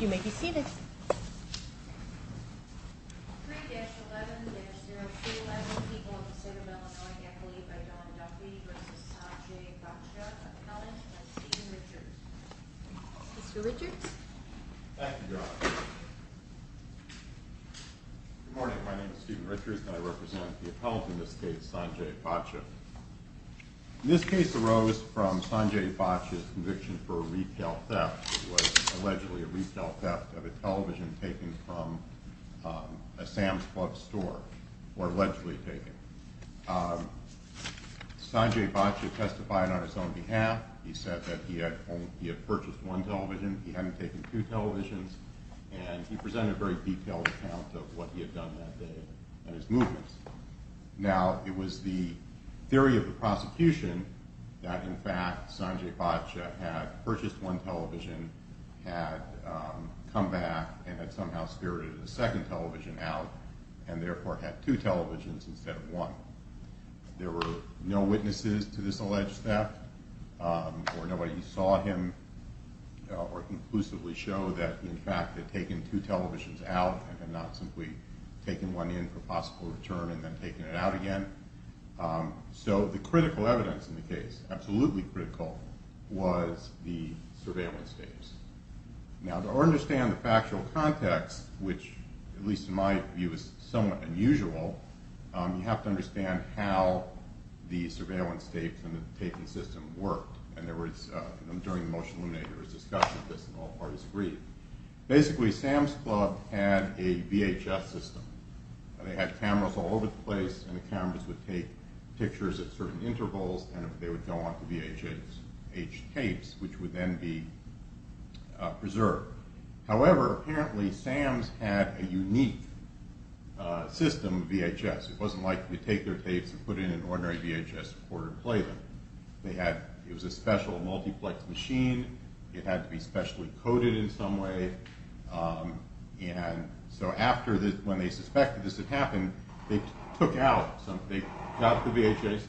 You may be seated. 3-11-0211, People of the State of Illinois, an affidavit by Don Duffy versus Sanjay Bhatia, Appellant and Stephen Richards. Mr. Richards? Thank you, Your Honor. Good morning, my name is Stephen Richards, and I represent the appellant in this case, Sanjay Bhatia. This case arose from Sanjay Bhatia's conviction for a retail theft. It was allegedly a retail theft of a television taken from a Sam's Club store, or allegedly taken. Sanjay Bhatia testified on his own behalf. He said that he had purchased one television, he hadn't taken two televisions, and he presented a very detailed account of what he had done that day and his movements. Now, it was the theory of the prosecution that, in fact, Sanjay Bhatia had purchased one television, had come back, and had somehow spirited a second television out, and therefore had two televisions instead of one. There were no witnesses to this alleged theft, or nobody saw him or conclusively showed that he, in fact, had taken two televisions out and had not simply taken one in for possible return and then taken it out again. So the critical evidence in the case, absolutely critical, was the surveillance tapes. Now, to understand the factual context, which, at least in my view, is somewhat unusual, you have to understand how the surveillance tapes and the taping system worked. And there was, during the motion to eliminate, there was discussion of this, and all parties agreed. Basically, Sam's Club had a VHS system. They had cameras all over the place, and the cameras would take pictures at certain intervals, and they would go on to VHS tapes, which would then be preserved. However, apparently, Sam's had a unique system of VHS. It wasn't like they would take their tapes and put it in an ordinary VHS recorder and play them. It was a special multiplex machine. It had to be specially coded in some way. And so after, when they suspected this had happened, they took out the VHS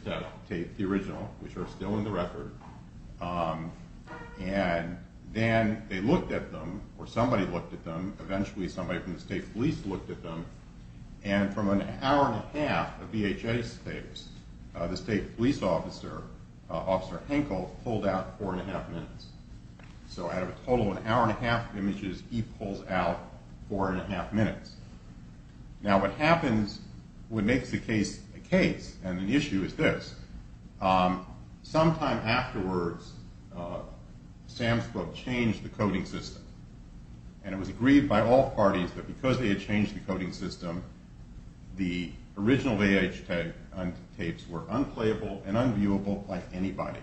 tape, the original, which are still in the record, and then they looked at them, or somebody looked at them, eventually somebody from the state police looked at them, and from an hour and a half of VHS tapes, the state police officer, Officer Henkel, pulled out four and a half minutes. So out of a total of an hour and a half of images, he pulls out four and a half minutes. Now what happens, what makes the case a case, and an issue, is this. Sometime afterwards, Sam's Club changed the coding system. And it was agreed by all parties that because they had changed the coding system, the original VHS tapes were unplayable and unviewable by anybody.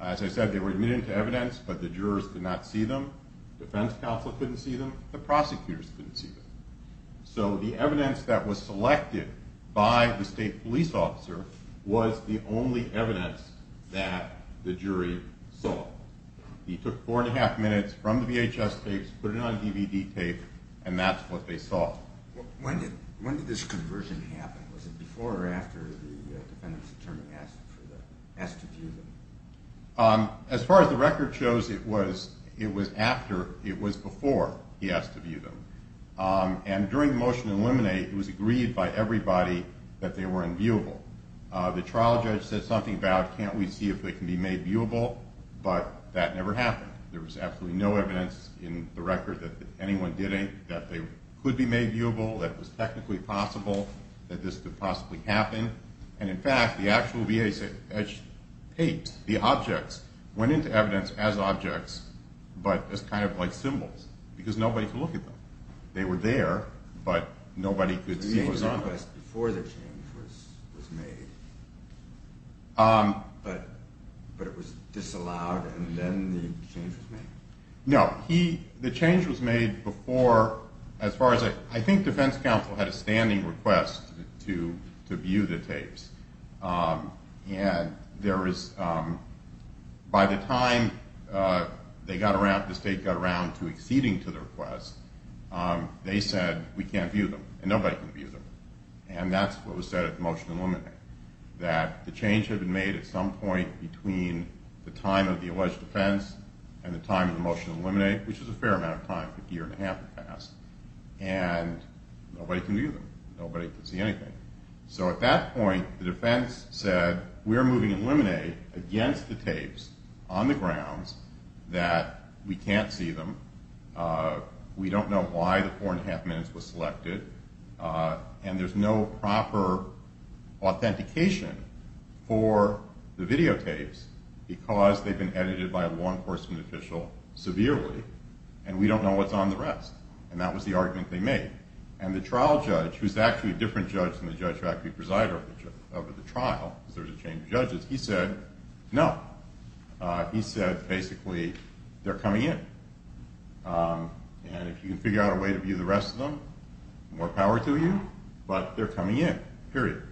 As I said, they were admitted to evidence, but the jurors could not see them, the defense counsel couldn't see them, the prosecutors couldn't see them. So the evidence that was selected by the state police officer was the only evidence that the jury saw. He took four and a half minutes from the VHS tapes, put it on DVD tape, and that's what they saw. When did this conversion happen? Was it before or after the defendant's attorney asked to view them? As far as the record shows, it was after, it was before he asked to view them. And during the motion to eliminate, it was agreed by everybody that they were unviewable. The trial judge said something about can't we see if they can be made viewable, but that never happened. There was absolutely no evidence in the record that anyone did it, that they could be made viewable, that it was technically possible, that this could possibly happen. And in fact, the actual VHS tapes, the objects, went into evidence as objects, but as kind of like symbols because nobody could look at them. They were there, but nobody could see what was on them. Was there a request before the change was made, but it was disallowed and then the change was made? No. The change was made before, as far as, I think defense counsel had a standing request to view the tapes. And there was, by the time they got around, the state got around to acceding to the request, they said we can't view them and nobody can view them. And that's what was said at the motion to eliminate, that the change had been made at some point between the time of the alleged offense and the time of the motion to eliminate, which was a fair amount of time, a year and a half had passed, and nobody can view them, nobody can see anything. So at that point, the defense said we're moving to eliminate against the tapes on the grounds that we can't see them, we don't know why the four and a half minutes was selected, and there's no proper authentication for the videotapes because they've been edited by a law enforcement official severely, and we don't know what's on the rest, and that was the argument they made. And the trial judge, who's actually a different judge than the judge who actually presided over the trial, because there was a change of judges, he said no. He said basically they're coming in, and if you can figure out a way to view the rest of them, more power to you, but they're coming in, period.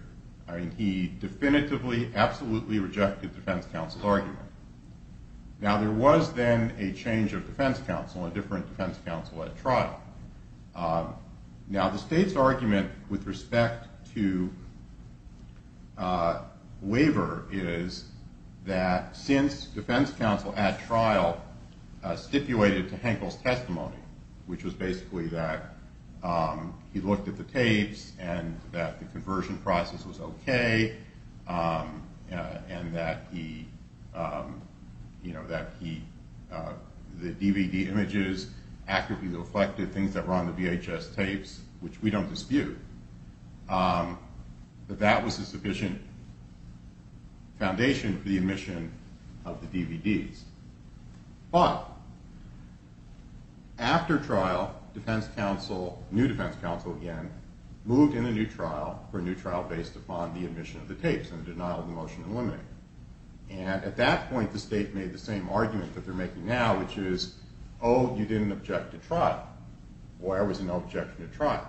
He definitively, absolutely rejected defense counsel's argument. Now there was then a change of defense counsel, a different defense counsel at trial. Now the state's argument with respect to waiver is that since defense counsel at trial stipulated to Henkel's testimony, which was basically that he looked at the tapes and that the conversion process was okay, and that the DVD images actively reflected things that were on the VHS tapes, which we don't dispute, that that was a sufficient foundation for the omission of the DVDs. But after trial, defense counsel, new defense counsel again, moved in a new trial for a new trial based upon the omission of the tapes and denial of the motion to eliminate. And at that point, the state made the same argument that they're making now, which is, oh, you didn't object to trial. Boy, I was in no objection to trial.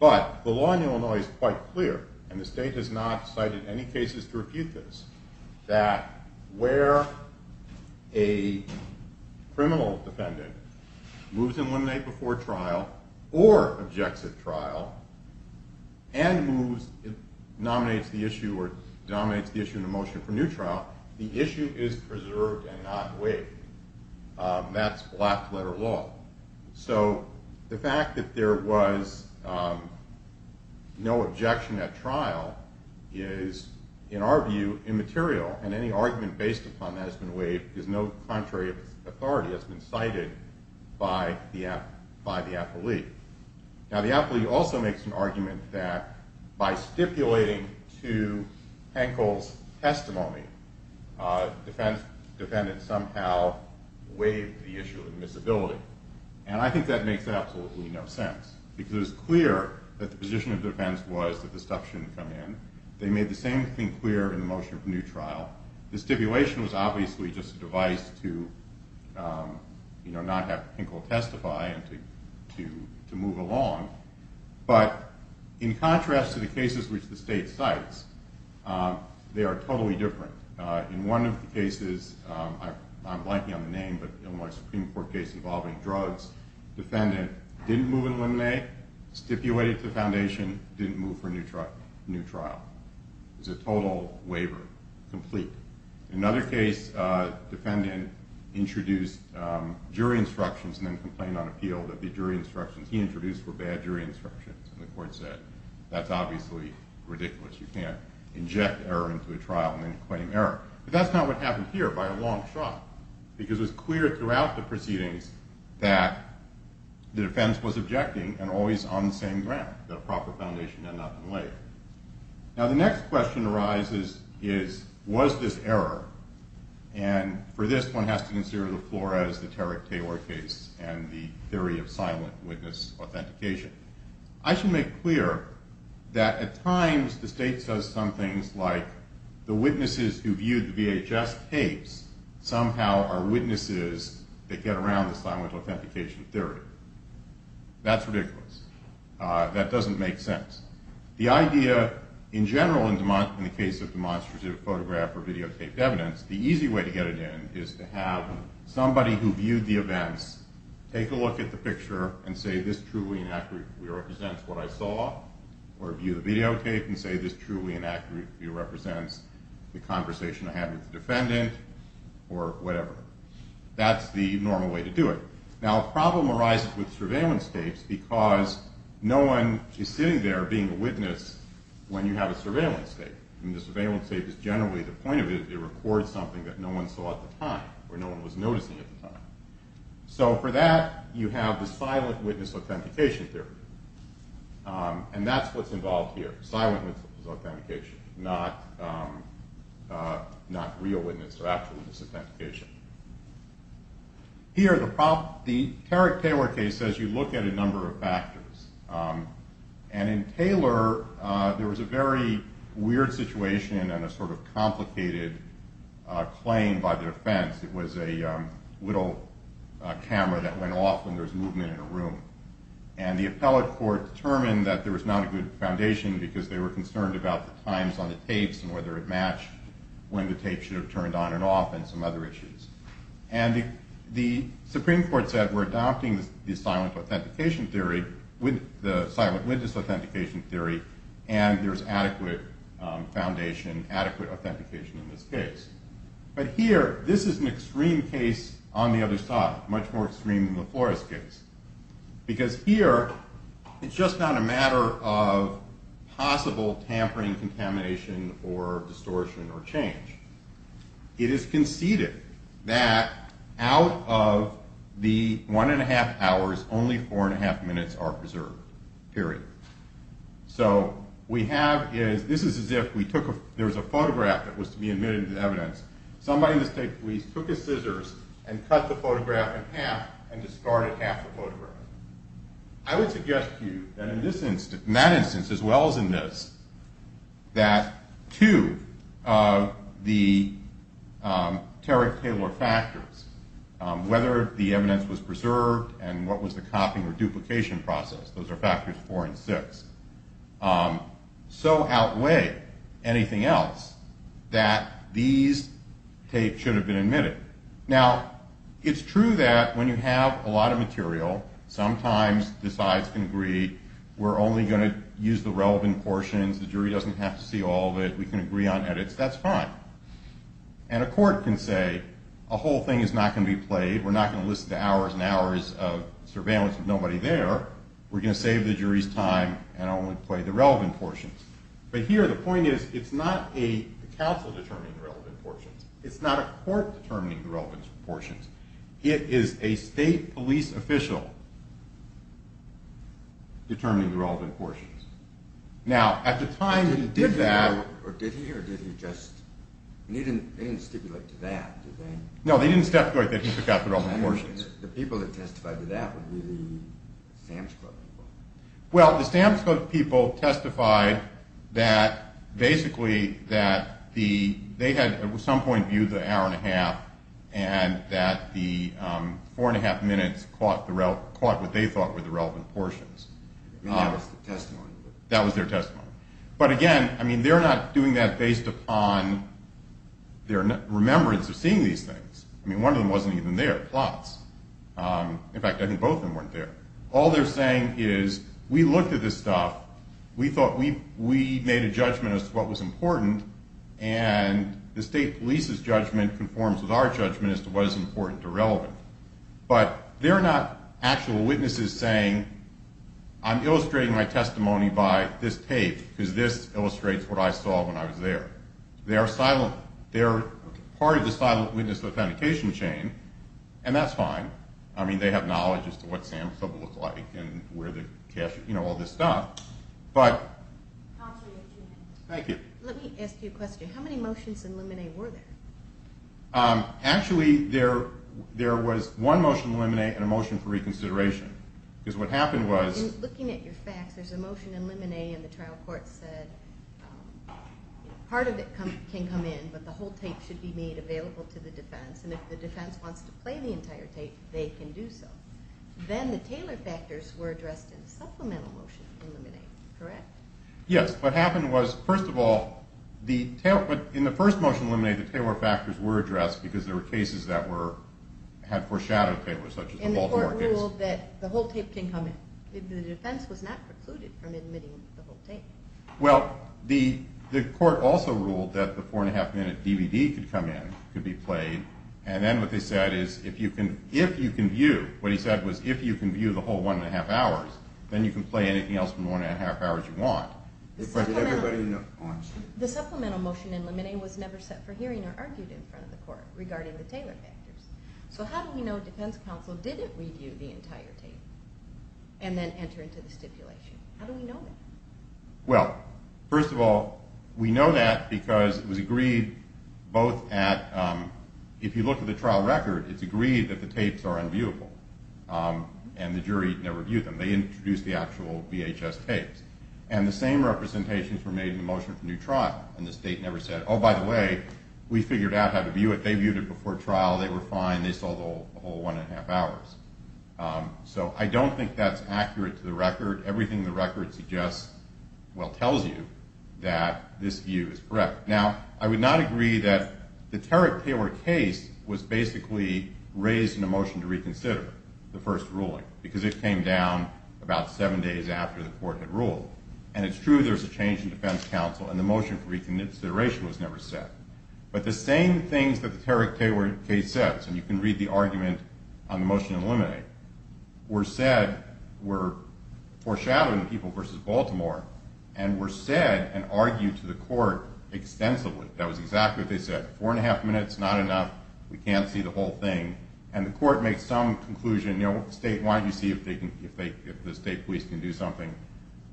But the law in Illinois is quite clear, and the state has not cited any cases to refute this, that where a criminal defendant moves to eliminate before trial or objects at trial and moves, nominates the issue or denominates the issue in a motion for new trial, the issue is preserved and not waived. That's black-letter law. So the fact that there was no objection at trial is, in our view, immaterial, and any argument based upon that has been waived because no contrary authority has been cited by the affilee. Now, the affilee also makes an argument that by stipulating to Hankel's testimony, the defendant somehow waived the issue of admissibility, and I think that makes absolutely no sense because it was clear that the position of defense was that this stuff shouldn't come in. They made the same thing clear in the motion for new trial. The stipulation was obviously just a device to not have Hankel testify and to move along. But in contrast to the cases which the state cites, they are totally different. In one of the cases, I'm blanking on the name, but an Illinois Supreme Court case involving drugs, the defendant didn't move and eliminate, stipulated to the foundation, didn't move for new trial. It was a total waiver, complete. In another case, the defendant introduced jury instructions and then complained on appeal that the jury instructions he introduced were bad jury instructions, and the court said, that's obviously ridiculous. You can't inject error into a trial and then claim error. But that's not what happened here by a long shot because it was clear throughout the proceedings that the defense was objecting and always on the same ground, that a proper foundation had not been laid. Now, the next question arises is, was this error? And for this, one has to consider the Flores, the Tarrick-Taylor case, and the theory of silent witness authentication. I should make clear that at times the state says some things like, the witnesses who viewed the VHS tapes somehow are witnesses that get around the silent authentication theory. That's ridiculous. That doesn't make sense. The idea, in general, in the case of demonstrative photograph or videotaped evidence, the easy way to get it in is to have somebody who viewed the events take a look at the picture and say, this truly and accurately represents what I saw, or view the videotape and say, this truly and accurately represents the conversation I had with the defendant, or whatever. That's the normal way to do it. Now, a problem arises with surveillance tapes because no one is sitting there being a witness when you have a surveillance tape. And the surveillance tape is generally the point of it. It records something that no one saw at the time, or no one was noticing at the time. So for that, you have the silent witness authentication theory. And that's what's involved here, silent witness authentication, not real witness or actual witness authentication. Here, the Tarrick-Taylor case says you look at a number of factors. And in Taylor, there was a very weird situation and a sort of complicated claim by the defense. It was a little camera that went off when there was movement in a room. And the appellate court determined that there was not a good foundation because they were concerned about the times on the tapes and whether it matched when the tape should have turned on and off and some other issues. And the Supreme Court said, we're adopting the silent witness authentication theory, and there's adequate foundation, adequate authentication in this case. But here, this is an extreme case on the other side, much more extreme than the Flores case. Because here, it's just not a matter of possible tampering, contamination, or distortion, or change. It is conceded that out of the one and a half hours, only four and a half minutes are preserved, period. So we have, this is as if we took, there was a photograph that was to be admitted into evidence. Somebody in the state police took his scissors and cut the photograph in half and discarded half the photograph. I would suggest to you that in that instance, as well as in this, that two of the Terry Taylor factors, whether the evidence was preserved and what was the copying or duplication process, those are factors four and six, so outweigh anything else that these tapes should have been admitted. Now, it's true that when you have a lot of material, sometimes the sides can agree, we're only going to use the relevant portions, the jury doesn't have to see all of it, we can agree on edits, that's fine. And a court can say, a whole thing is not going to be played, we're not going to listen to hours and hours of surveillance with nobody there, we're going to save the jury's time and only play the relevant portions. But here, the point is, it's not a counsel determining the relevant portions, it's not a court determining the relevant portions, it is a state police official determining the relevant portions. Now, at the time he did that... Did he or did he just, they didn't stipulate to that, did they? No, they didn't stipulate that he took out the relevant portions. The people that testified to that would be the Sam's Club people. Well, the Sam's Club people testified that basically that they had at some point viewed the hour and a half and that the four and a half minutes caught what they thought were the relevant portions. That was their testimony. That was their testimony. But again, they're not doing that based upon their remembrance of seeing these things. I mean, one of them wasn't even there, plots. In fact, I think both of them weren't there. All they're saying is, we looked at this stuff, we thought we made a judgment as to what was important, and the state police's judgment conforms with our judgment as to what is important or relevant. But they're not actual witnesses saying, I'm illustrating my testimony by this tape because this illustrates what I saw when I was there. They're part of the silent witness authentication chain, and that's fine. I mean, they have knowledge as to what Sam's Club looked like and where the cash was, you know, all this stuff. Counselor, you have two minutes. Thank you. Let me ask you a question. How many motions in limine were there? Actually, there was one motion in limine and a motion for reconsideration because what happened was Looking at your facts, there's a motion in limine and the trial court said part of it can come in, but the whole tape should be made available to the defense, and if the defense wants to play the entire tape, they can do so. Then the Taylor factors were addressed in a supplemental motion in limine, correct? Yes. What happened was, first of all, in the first motion in limine, the Taylor factors were addressed because there were cases that had foreshadowed Taylor, such as the Baltimore case. And the court ruled that the whole tape can come in. The defense was not precluded from admitting the whole tape. Well, the court also ruled that the four-and-a-half-minute DVD could come in, could be played, and then what they said is if you can view, what he said was if you can view the whole one-and-a-half hours, then you can play anything else from the one-and-a-half hours you want. Did everybody know? The supplemental motion in limine was never set for hearing or argued in front of the court regarding the Taylor factors. So how do we know defense counsel didn't review the entire tape and then enter into the stipulation? How do we know that? Well, first of all, we know that because it was agreed both at, if you look at the trial record, it's agreed that the tapes are unviewable, and the jury never viewed them. They introduced the actual VHS tapes. And the same representations were made in the motion for new trial, and the state never said, oh, by the way, we figured out how to view it. They viewed it before trial. They were fine. They saw the whole one-and-a-half hours. So I don't think that's accurate to the record. Everything in the record suggests, well, tells you that this view is correct. Now, I would not agree that the Tarrick-Taylor case was basically raised in a motion to reconsider the first ruling because it came down about seven days after the court had ruled. And it's true there's a change in defense counsel, and the motion for reconsideration was never set. But the same things that the Tarrick-Taylor case said, and you can read the argument on the motion to eliminate, were said, were foreshadowed in People v. Baltimore, and were said and argued to the court extensively. That was exactly what they said, four-and-a-half minutes, not enough. We can't see the whole thing. And the court made some conclusion, you know, statewide, you see if the state police can do something.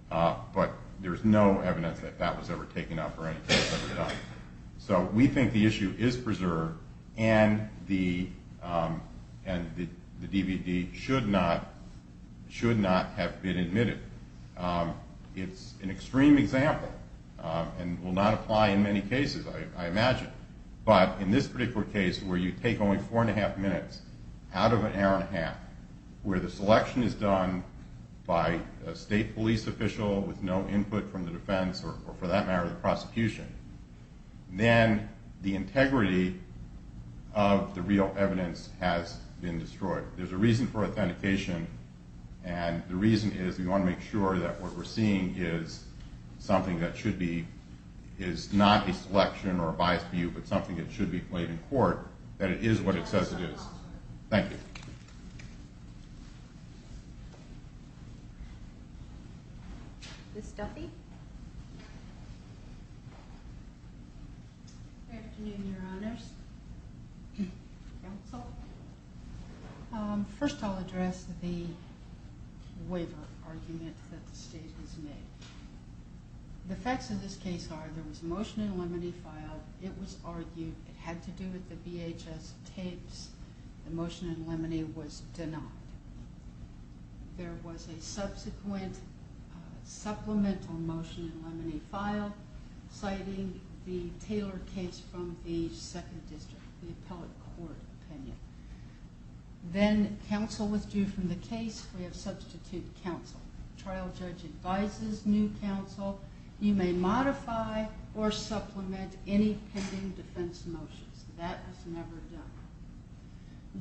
But there's no evidence that that was ever taken up or anything was ever done. So we think the issue is preserved, and the DVD should not have been admitted. It's an extreme example and will not apply in many cases, I imagine. But in this particular case, where you take only four-and-a-half minutes out of an hour-and-a-half, where the selection is done by a state police official with no input from the defense or, for that matter, the prosecution, then the integrity of the real evidence has been destroyed. There's a reason for authentication, and the reason is we want to make sure that what we're seeing is something that should be, is not a selection or a biased view, but something that should be played in court, that it is what it says it is. Thank you. Ms. Duffy? Good afternoon, Your Honors. First I'll address the waiver argument that the state has made. The facts of this case are there was a motion in limine filed. It was argued it had to do with the VHS tapes. The motion in limine was denied. There was a subsequent supplemental motion in limine filed, citing the Taylor case from the 2nd District, the appellate court opinion. Then counsel withdrew from the case. We have substitute counsel. Trial judge advises new counsel, you may modify or supplement any pending defense motions. That was never done.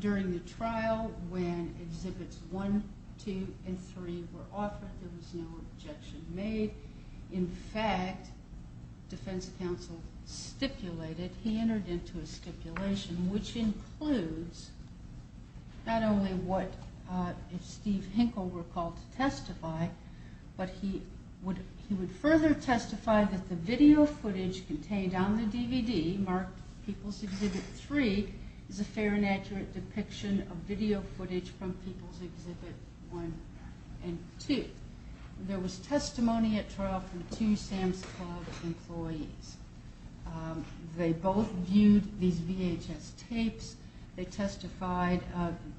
During the trial, when exhibits 1, 2, and 3 were offered, there was no objection made. In fact, defense counsel stipulated, he entered into a stipulation, which includes not only what if Steve Hinkle were called to testify, but he would further testify that the video footage contained on the DVD marked People's Exhibit 3 is a fair and accurate depiction of video footage from People's Exhibit 1 and 2. There was testimony at trial from two Sam's Club employees. They both viewed these VHS tapes. They testified,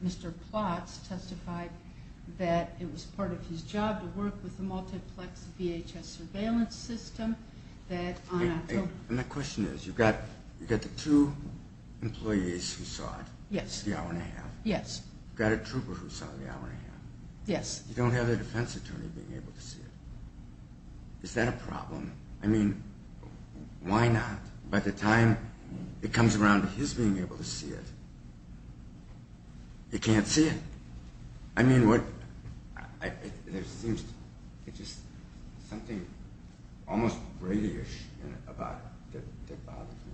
Mr. Plotz testified that it was part of his job to work with the multiplex VHS surveillance system. And the question is, you've got the two employees who saw it, the hour and a half. Yes. You've got a trooper who saw the hour and a half. Yes. You don't have a defense attorney being able to see it. Is that a problem? I mean, why not? By the time it comes around to his being able to see it, he can't see it. I mean, there seems to be just something almost radio-ish about it that bothers me.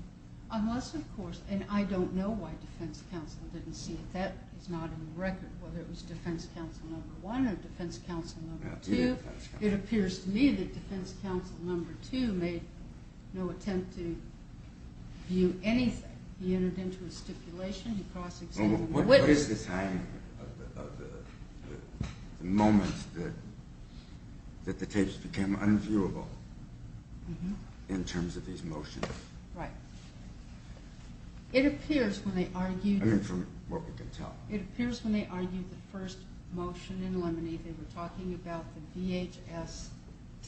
Unless, of course, and I don't know why defense counsel didn't see it. That is not in the record, whether it was defense counsel number one or defense counsel number two. It appears to me that defense counsel number two made no attempt to view anything. He entered into a stipulation. What is the time of the moment that the tapes became unviewable in terms of these motions? Right. It appears when they argued the first motion in Lemony, they were talking about the VHS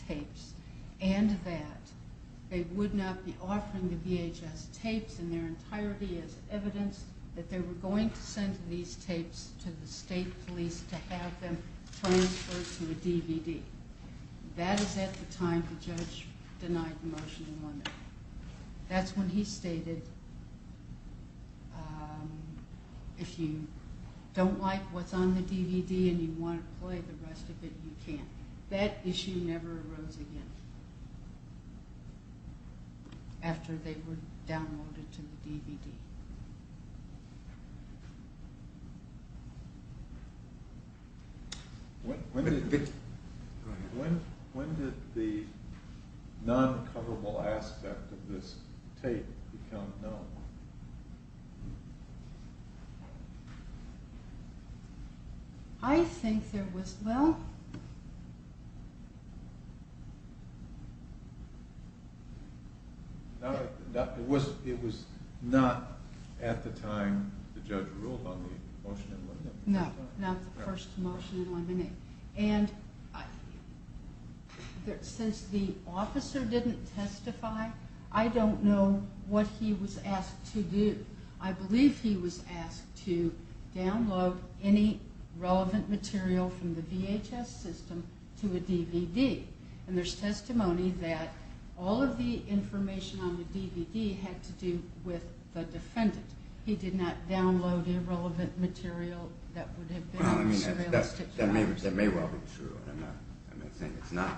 tapes and that they would not be offering the VHS tapes in their entirety as evidence that they were going to send these tapes to the state police to have them transferred to a DVD. That is at the time the judge denied the motion in Lemony. That's when he stated, if you don't like what's on the DVD and you want to play the rest of it, you can't. That issue never arose again after they were downloaded to the DVD. When did the non-coverable aspect of this tape become known? I think there was, well... It was not at the time the judge ruled on the motion in Lemony. No, not the first motion in Lemony. Since the officer didn't testify, I don't know what he was asked to do. I believe he was asked to download any relevant material from the VHS system to a DVD. There's testimony that all of the information on the DVD had to do with the defendant. He did not download irrelevant material that would have been... That may well be true. I'm not saying it's not.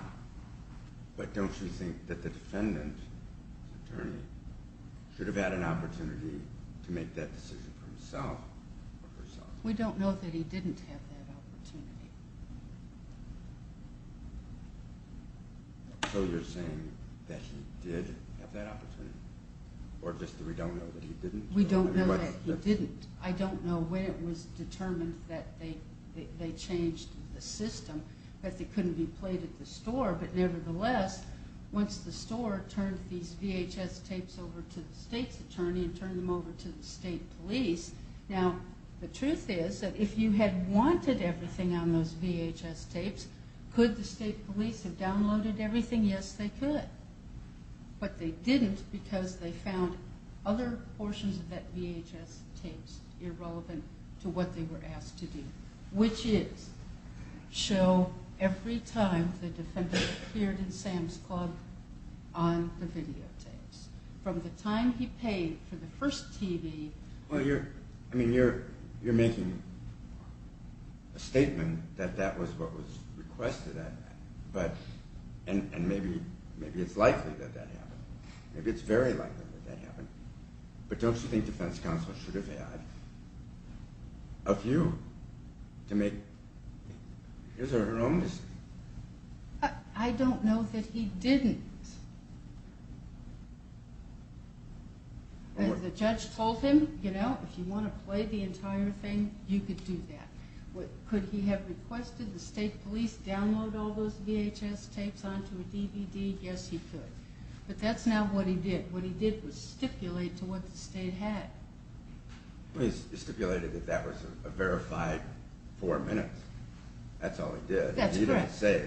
But don't you think that the defendant, the attorney, should have had an opportunity to make that decision for himself or herself? We don't know that he didn't have that opportunity. So you're saying that he did have that opportunity, or just that we don't know that he didn't? We don't know that he didn't. I don't know when it was determined that they changed the system, that they couldn't be played at the store. But nevertheless, once the store turned these VHS tapes over to the state's attorney and turned them over to the state police... Now, the truth is that if you had wanted everything on those VHS tapes, could the state police have downloaded everything? Yes, they could. But they didn't because they found other portions of that VHS tapes irrelevant to what they were asked to do, which is show every time the defendant appeared in Sam's Club on the videotapes. From the time he paid for the first TV... Well, you're making a statement that that was what was requested. And maybe it's likely that that happened. Maybe it's very likely that that happened. But don't you think defense counsel should have had a view to make his or her own decision? I don't know that he didn't. The judge told him, you know, if you want to play the entire thing, you could do that. Could he have requested the state police download all those VHS tapes onto a DVD? Yes, he could. But that's not what he did. What he did was stipulate to what the state had. He stipulated that that was a verified four minutes. That's all he did. That's correct. He didn't say,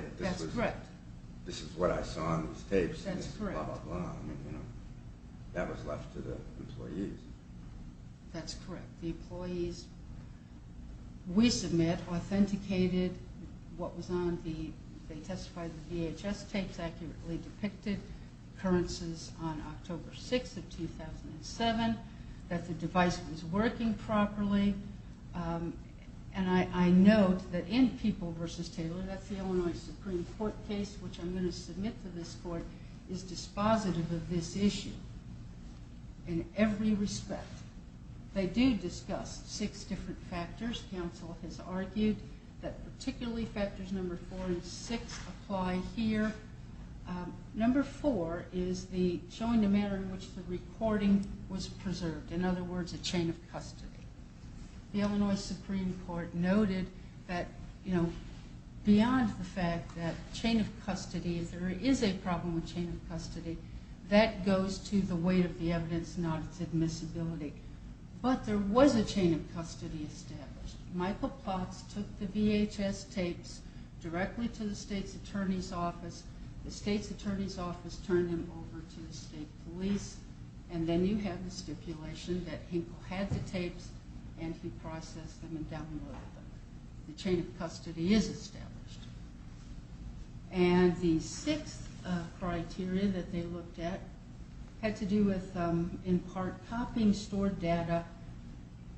this is what I saw on these tapes. That's correct. Blah, blah, blah. That was left to the employees. That's correct. The employees, we submit, authenticated what was on the... They testified the VHS tapes accurately depicted occurrences on October 6th of 2007, that the device was working properly. And I note that in People v. Taylor, that's the Illinois Supreme Court case, which I'm going to submit to this court, is dispositive of this issue in every respect. They do discuss six different factors. Counsel has argued that particularly factors number four and six apply here. Number four is showing the manner in which the recording was preserved, in other words, a chain of custody. The Illinois Supreme Court noted that beyond the fact that chain of custody, if there is a problem with chain of custody, that goes to the weight of the evidence, not its admissibility. But there was a chain of custody established. Michael Plotz took the VHS tapes directly to the state's attorney's office. The state's attorney's office turned them over to the state police, and then you have the stipulation that Hinkle had the tapes, and he processed them and downloaded them. The chain of custody is established. And the sixth criteria that they looked at had to do with, in part, copying stored data.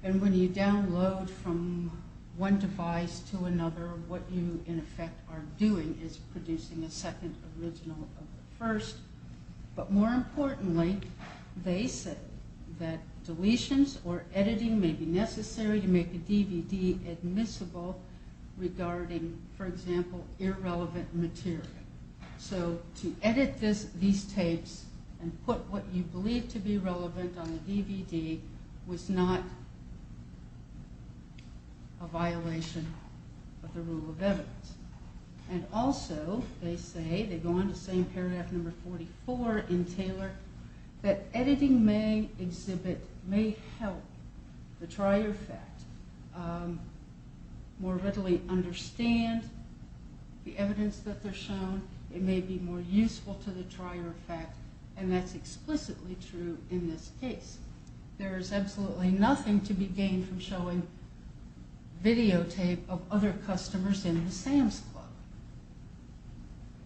And when you download from one device to another, what you, in effect, are doing is producing a second original of the first. But more importantly, they said that deletions or editing may be necessary to make a DVD admissible regarding, for example, irrelevant material. So to edit these tapes and put what you believe to be relevant on a DVD was not a violation of the rule of evidence. And also, they say, they go on to say in paragraph number 44 in Taylor, that editing may exhibit, may help the trier fact more readily understand the evidence that they're shown. It may be more useful to the trier fact, and that's explicitly true in this case. There is absolutely nothing to be gained from showing videotape of other customers in the Sam's Club.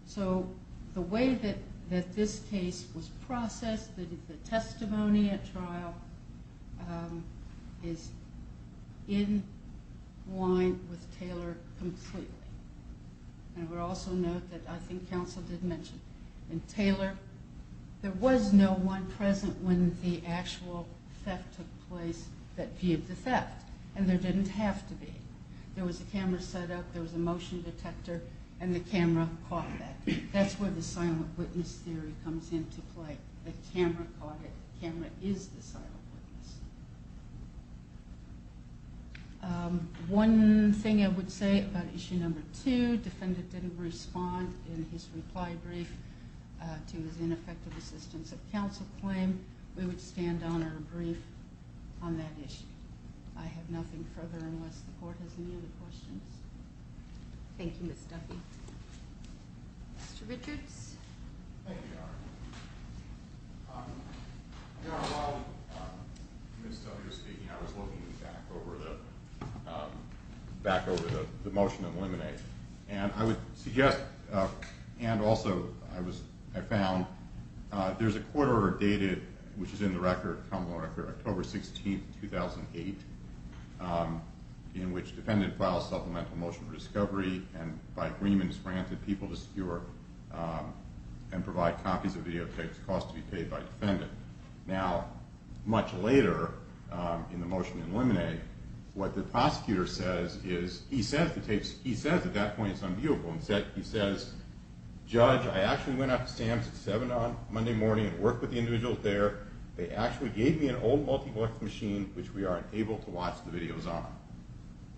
So the way that this case was processed, the testimony at trial, is in line with Taylor completely. And we'll also note that I think counsel did mention, in Taylor, there was no one present when the actual theft took place that viewed the theft. And there didn't have to be. There was a camera set up, there was a motion detector, and the camera caught that. That's where the silent witness theory comes into play. The camera caught it. The camera is the silent witness. One thing I would say about issue number two, defendant didn't respond in his reply brief to his ineffective assistance of counsel claim. We would stand on our brief on that issue. I have nothing further unless the court has any other questions. Thank you, Ms. Duffy. Mr. Richards. Thank you, Your Honor. Your Honor, while Ms. Duffy was speaking, I was looking back over the motion to eliminate. And I would suggest, and also I found there's a court order dated, which is in the record, common law record, October 16, 2008, in which defendant files supplemental motion for discovery and by agreement is granted people to secure and provide copies of videotapes cost to be paid by defendant. Now, much later in the motion to eliminate, what the prosecutor says is he says the tapes, he says at that point it's unviewable. He says, Judge, I actually went out to Sam's at 7 on Monday morning and worked with the individuals there. They actually gave me an old multiplex machine, which we aren't able to watch the videos on.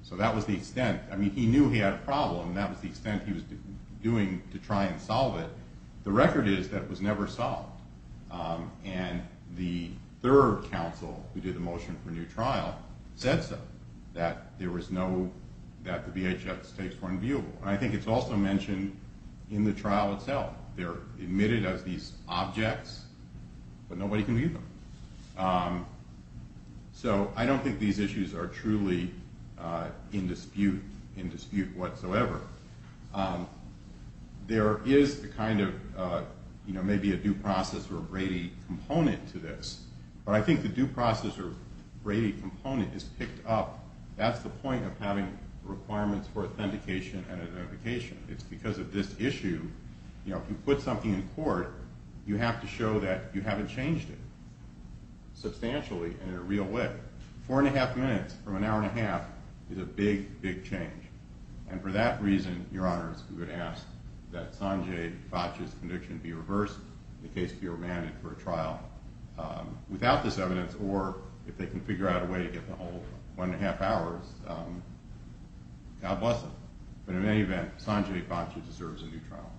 So that was the extent. I mean, he knew he had a problem, and that was the extent he was doing to try and solve it. The record is that it was never solved. And the third counsel who did the motion for new trial said so, that there was no, that the VHS tapes were unviewable. And I think it's also mentioned in the trial itself. They're admitted as these objects, but nobody can view them. So I don't think these issues are truly in dispute, in dispute whatsoever. There is a kind of, you know, maybe a due process or a Brady component to this. But I think the due process or Brady component is picked up. That's the point of having requirements for authentication and identification. It's because of this issue, you know, if you put something in court, you have to show that you haven't changed it substantially in a real way. Four and a half minutes from an hour and a half is a big, big change. And for that reason, Your Honors, we would ask that Sanjay Bhatia's conviction be reversed, the case be remanded for a trial without this evidence, or if they can figure out a way to get the whole one and a half hours, God bless them. But in any event, Sanjay Bhatia deserves a new trial.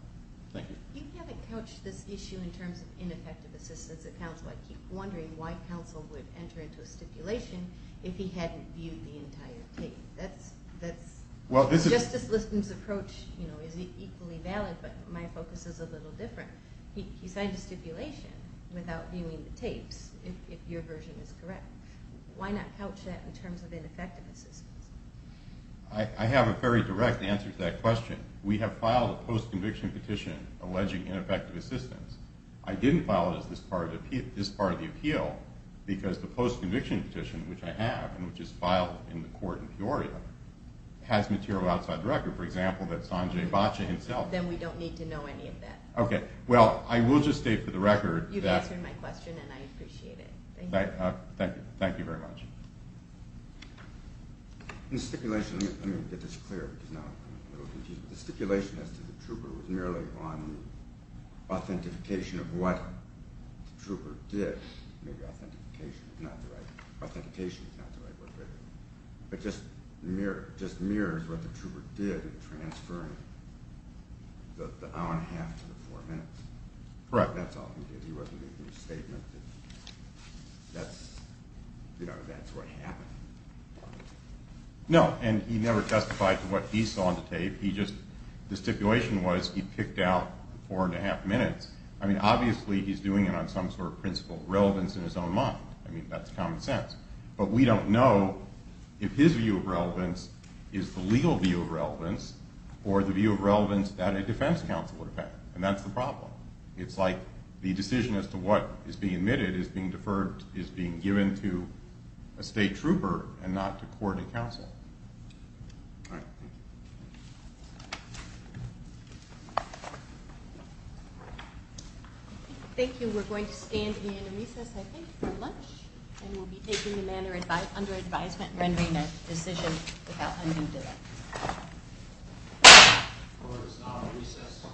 Thank you. You haven't couched this issue in terms of ineffective assistance at counsel. I keep wondering why counsel would enter into a stipulation if he hadn't viewed the entire tape. Justice Liston's approach, you know, is equally valid, but my focus is a little different. He signed a stipulation without viewing the tapes, if your version is correct. Why not couch that in terms of ineffective assistance? I have a very direct answer to that question. We have filed a post-conviction petition alleging ineffective assistance. I didn't file it as this part of the appeal because the post-conviction petition, which I have, and which is filed in the court in Peoria, has material outside the record. For example, that Sanjay Bhatia himself... Then we don't need to know any of that. Okay. Well, I will just state for the record that... You've answered my question, and I appreciate it. Thank you. Thank you. Thank you very much. In the stipulation... Let me get this clear because now it will confuse you. The stipulation as to the trooper was merely on authentication of what the trooper did. Maybe authentication is not the right word. Authentication is not the right word. It just mirrors what the trooper did in transferring the hour and a half to the four minutes. Correct. That's all he did. He wasn't making a statement. That's what happened. No, and he never testified to what he saw on the tape. He just... The stipulation was he picked out four and a half minutes. I mean, obviously he's doing it on some sort of principle of relevance in his own mind. I mean, that's common sense. But we don't know if his view of relevance is the legal view of relevance or the view of relevance that a defense counsel would have had, and that's the problem. It's like the decision as to what is being admitted is being deferred, is being given to a state trooper and not to court and counsel. All right. Thank you. Thank you. We're going to stand in recess, I think, for lunch, and we'll be taking the matter under advisement and rendering a decision without undue delay. Court is now in recess.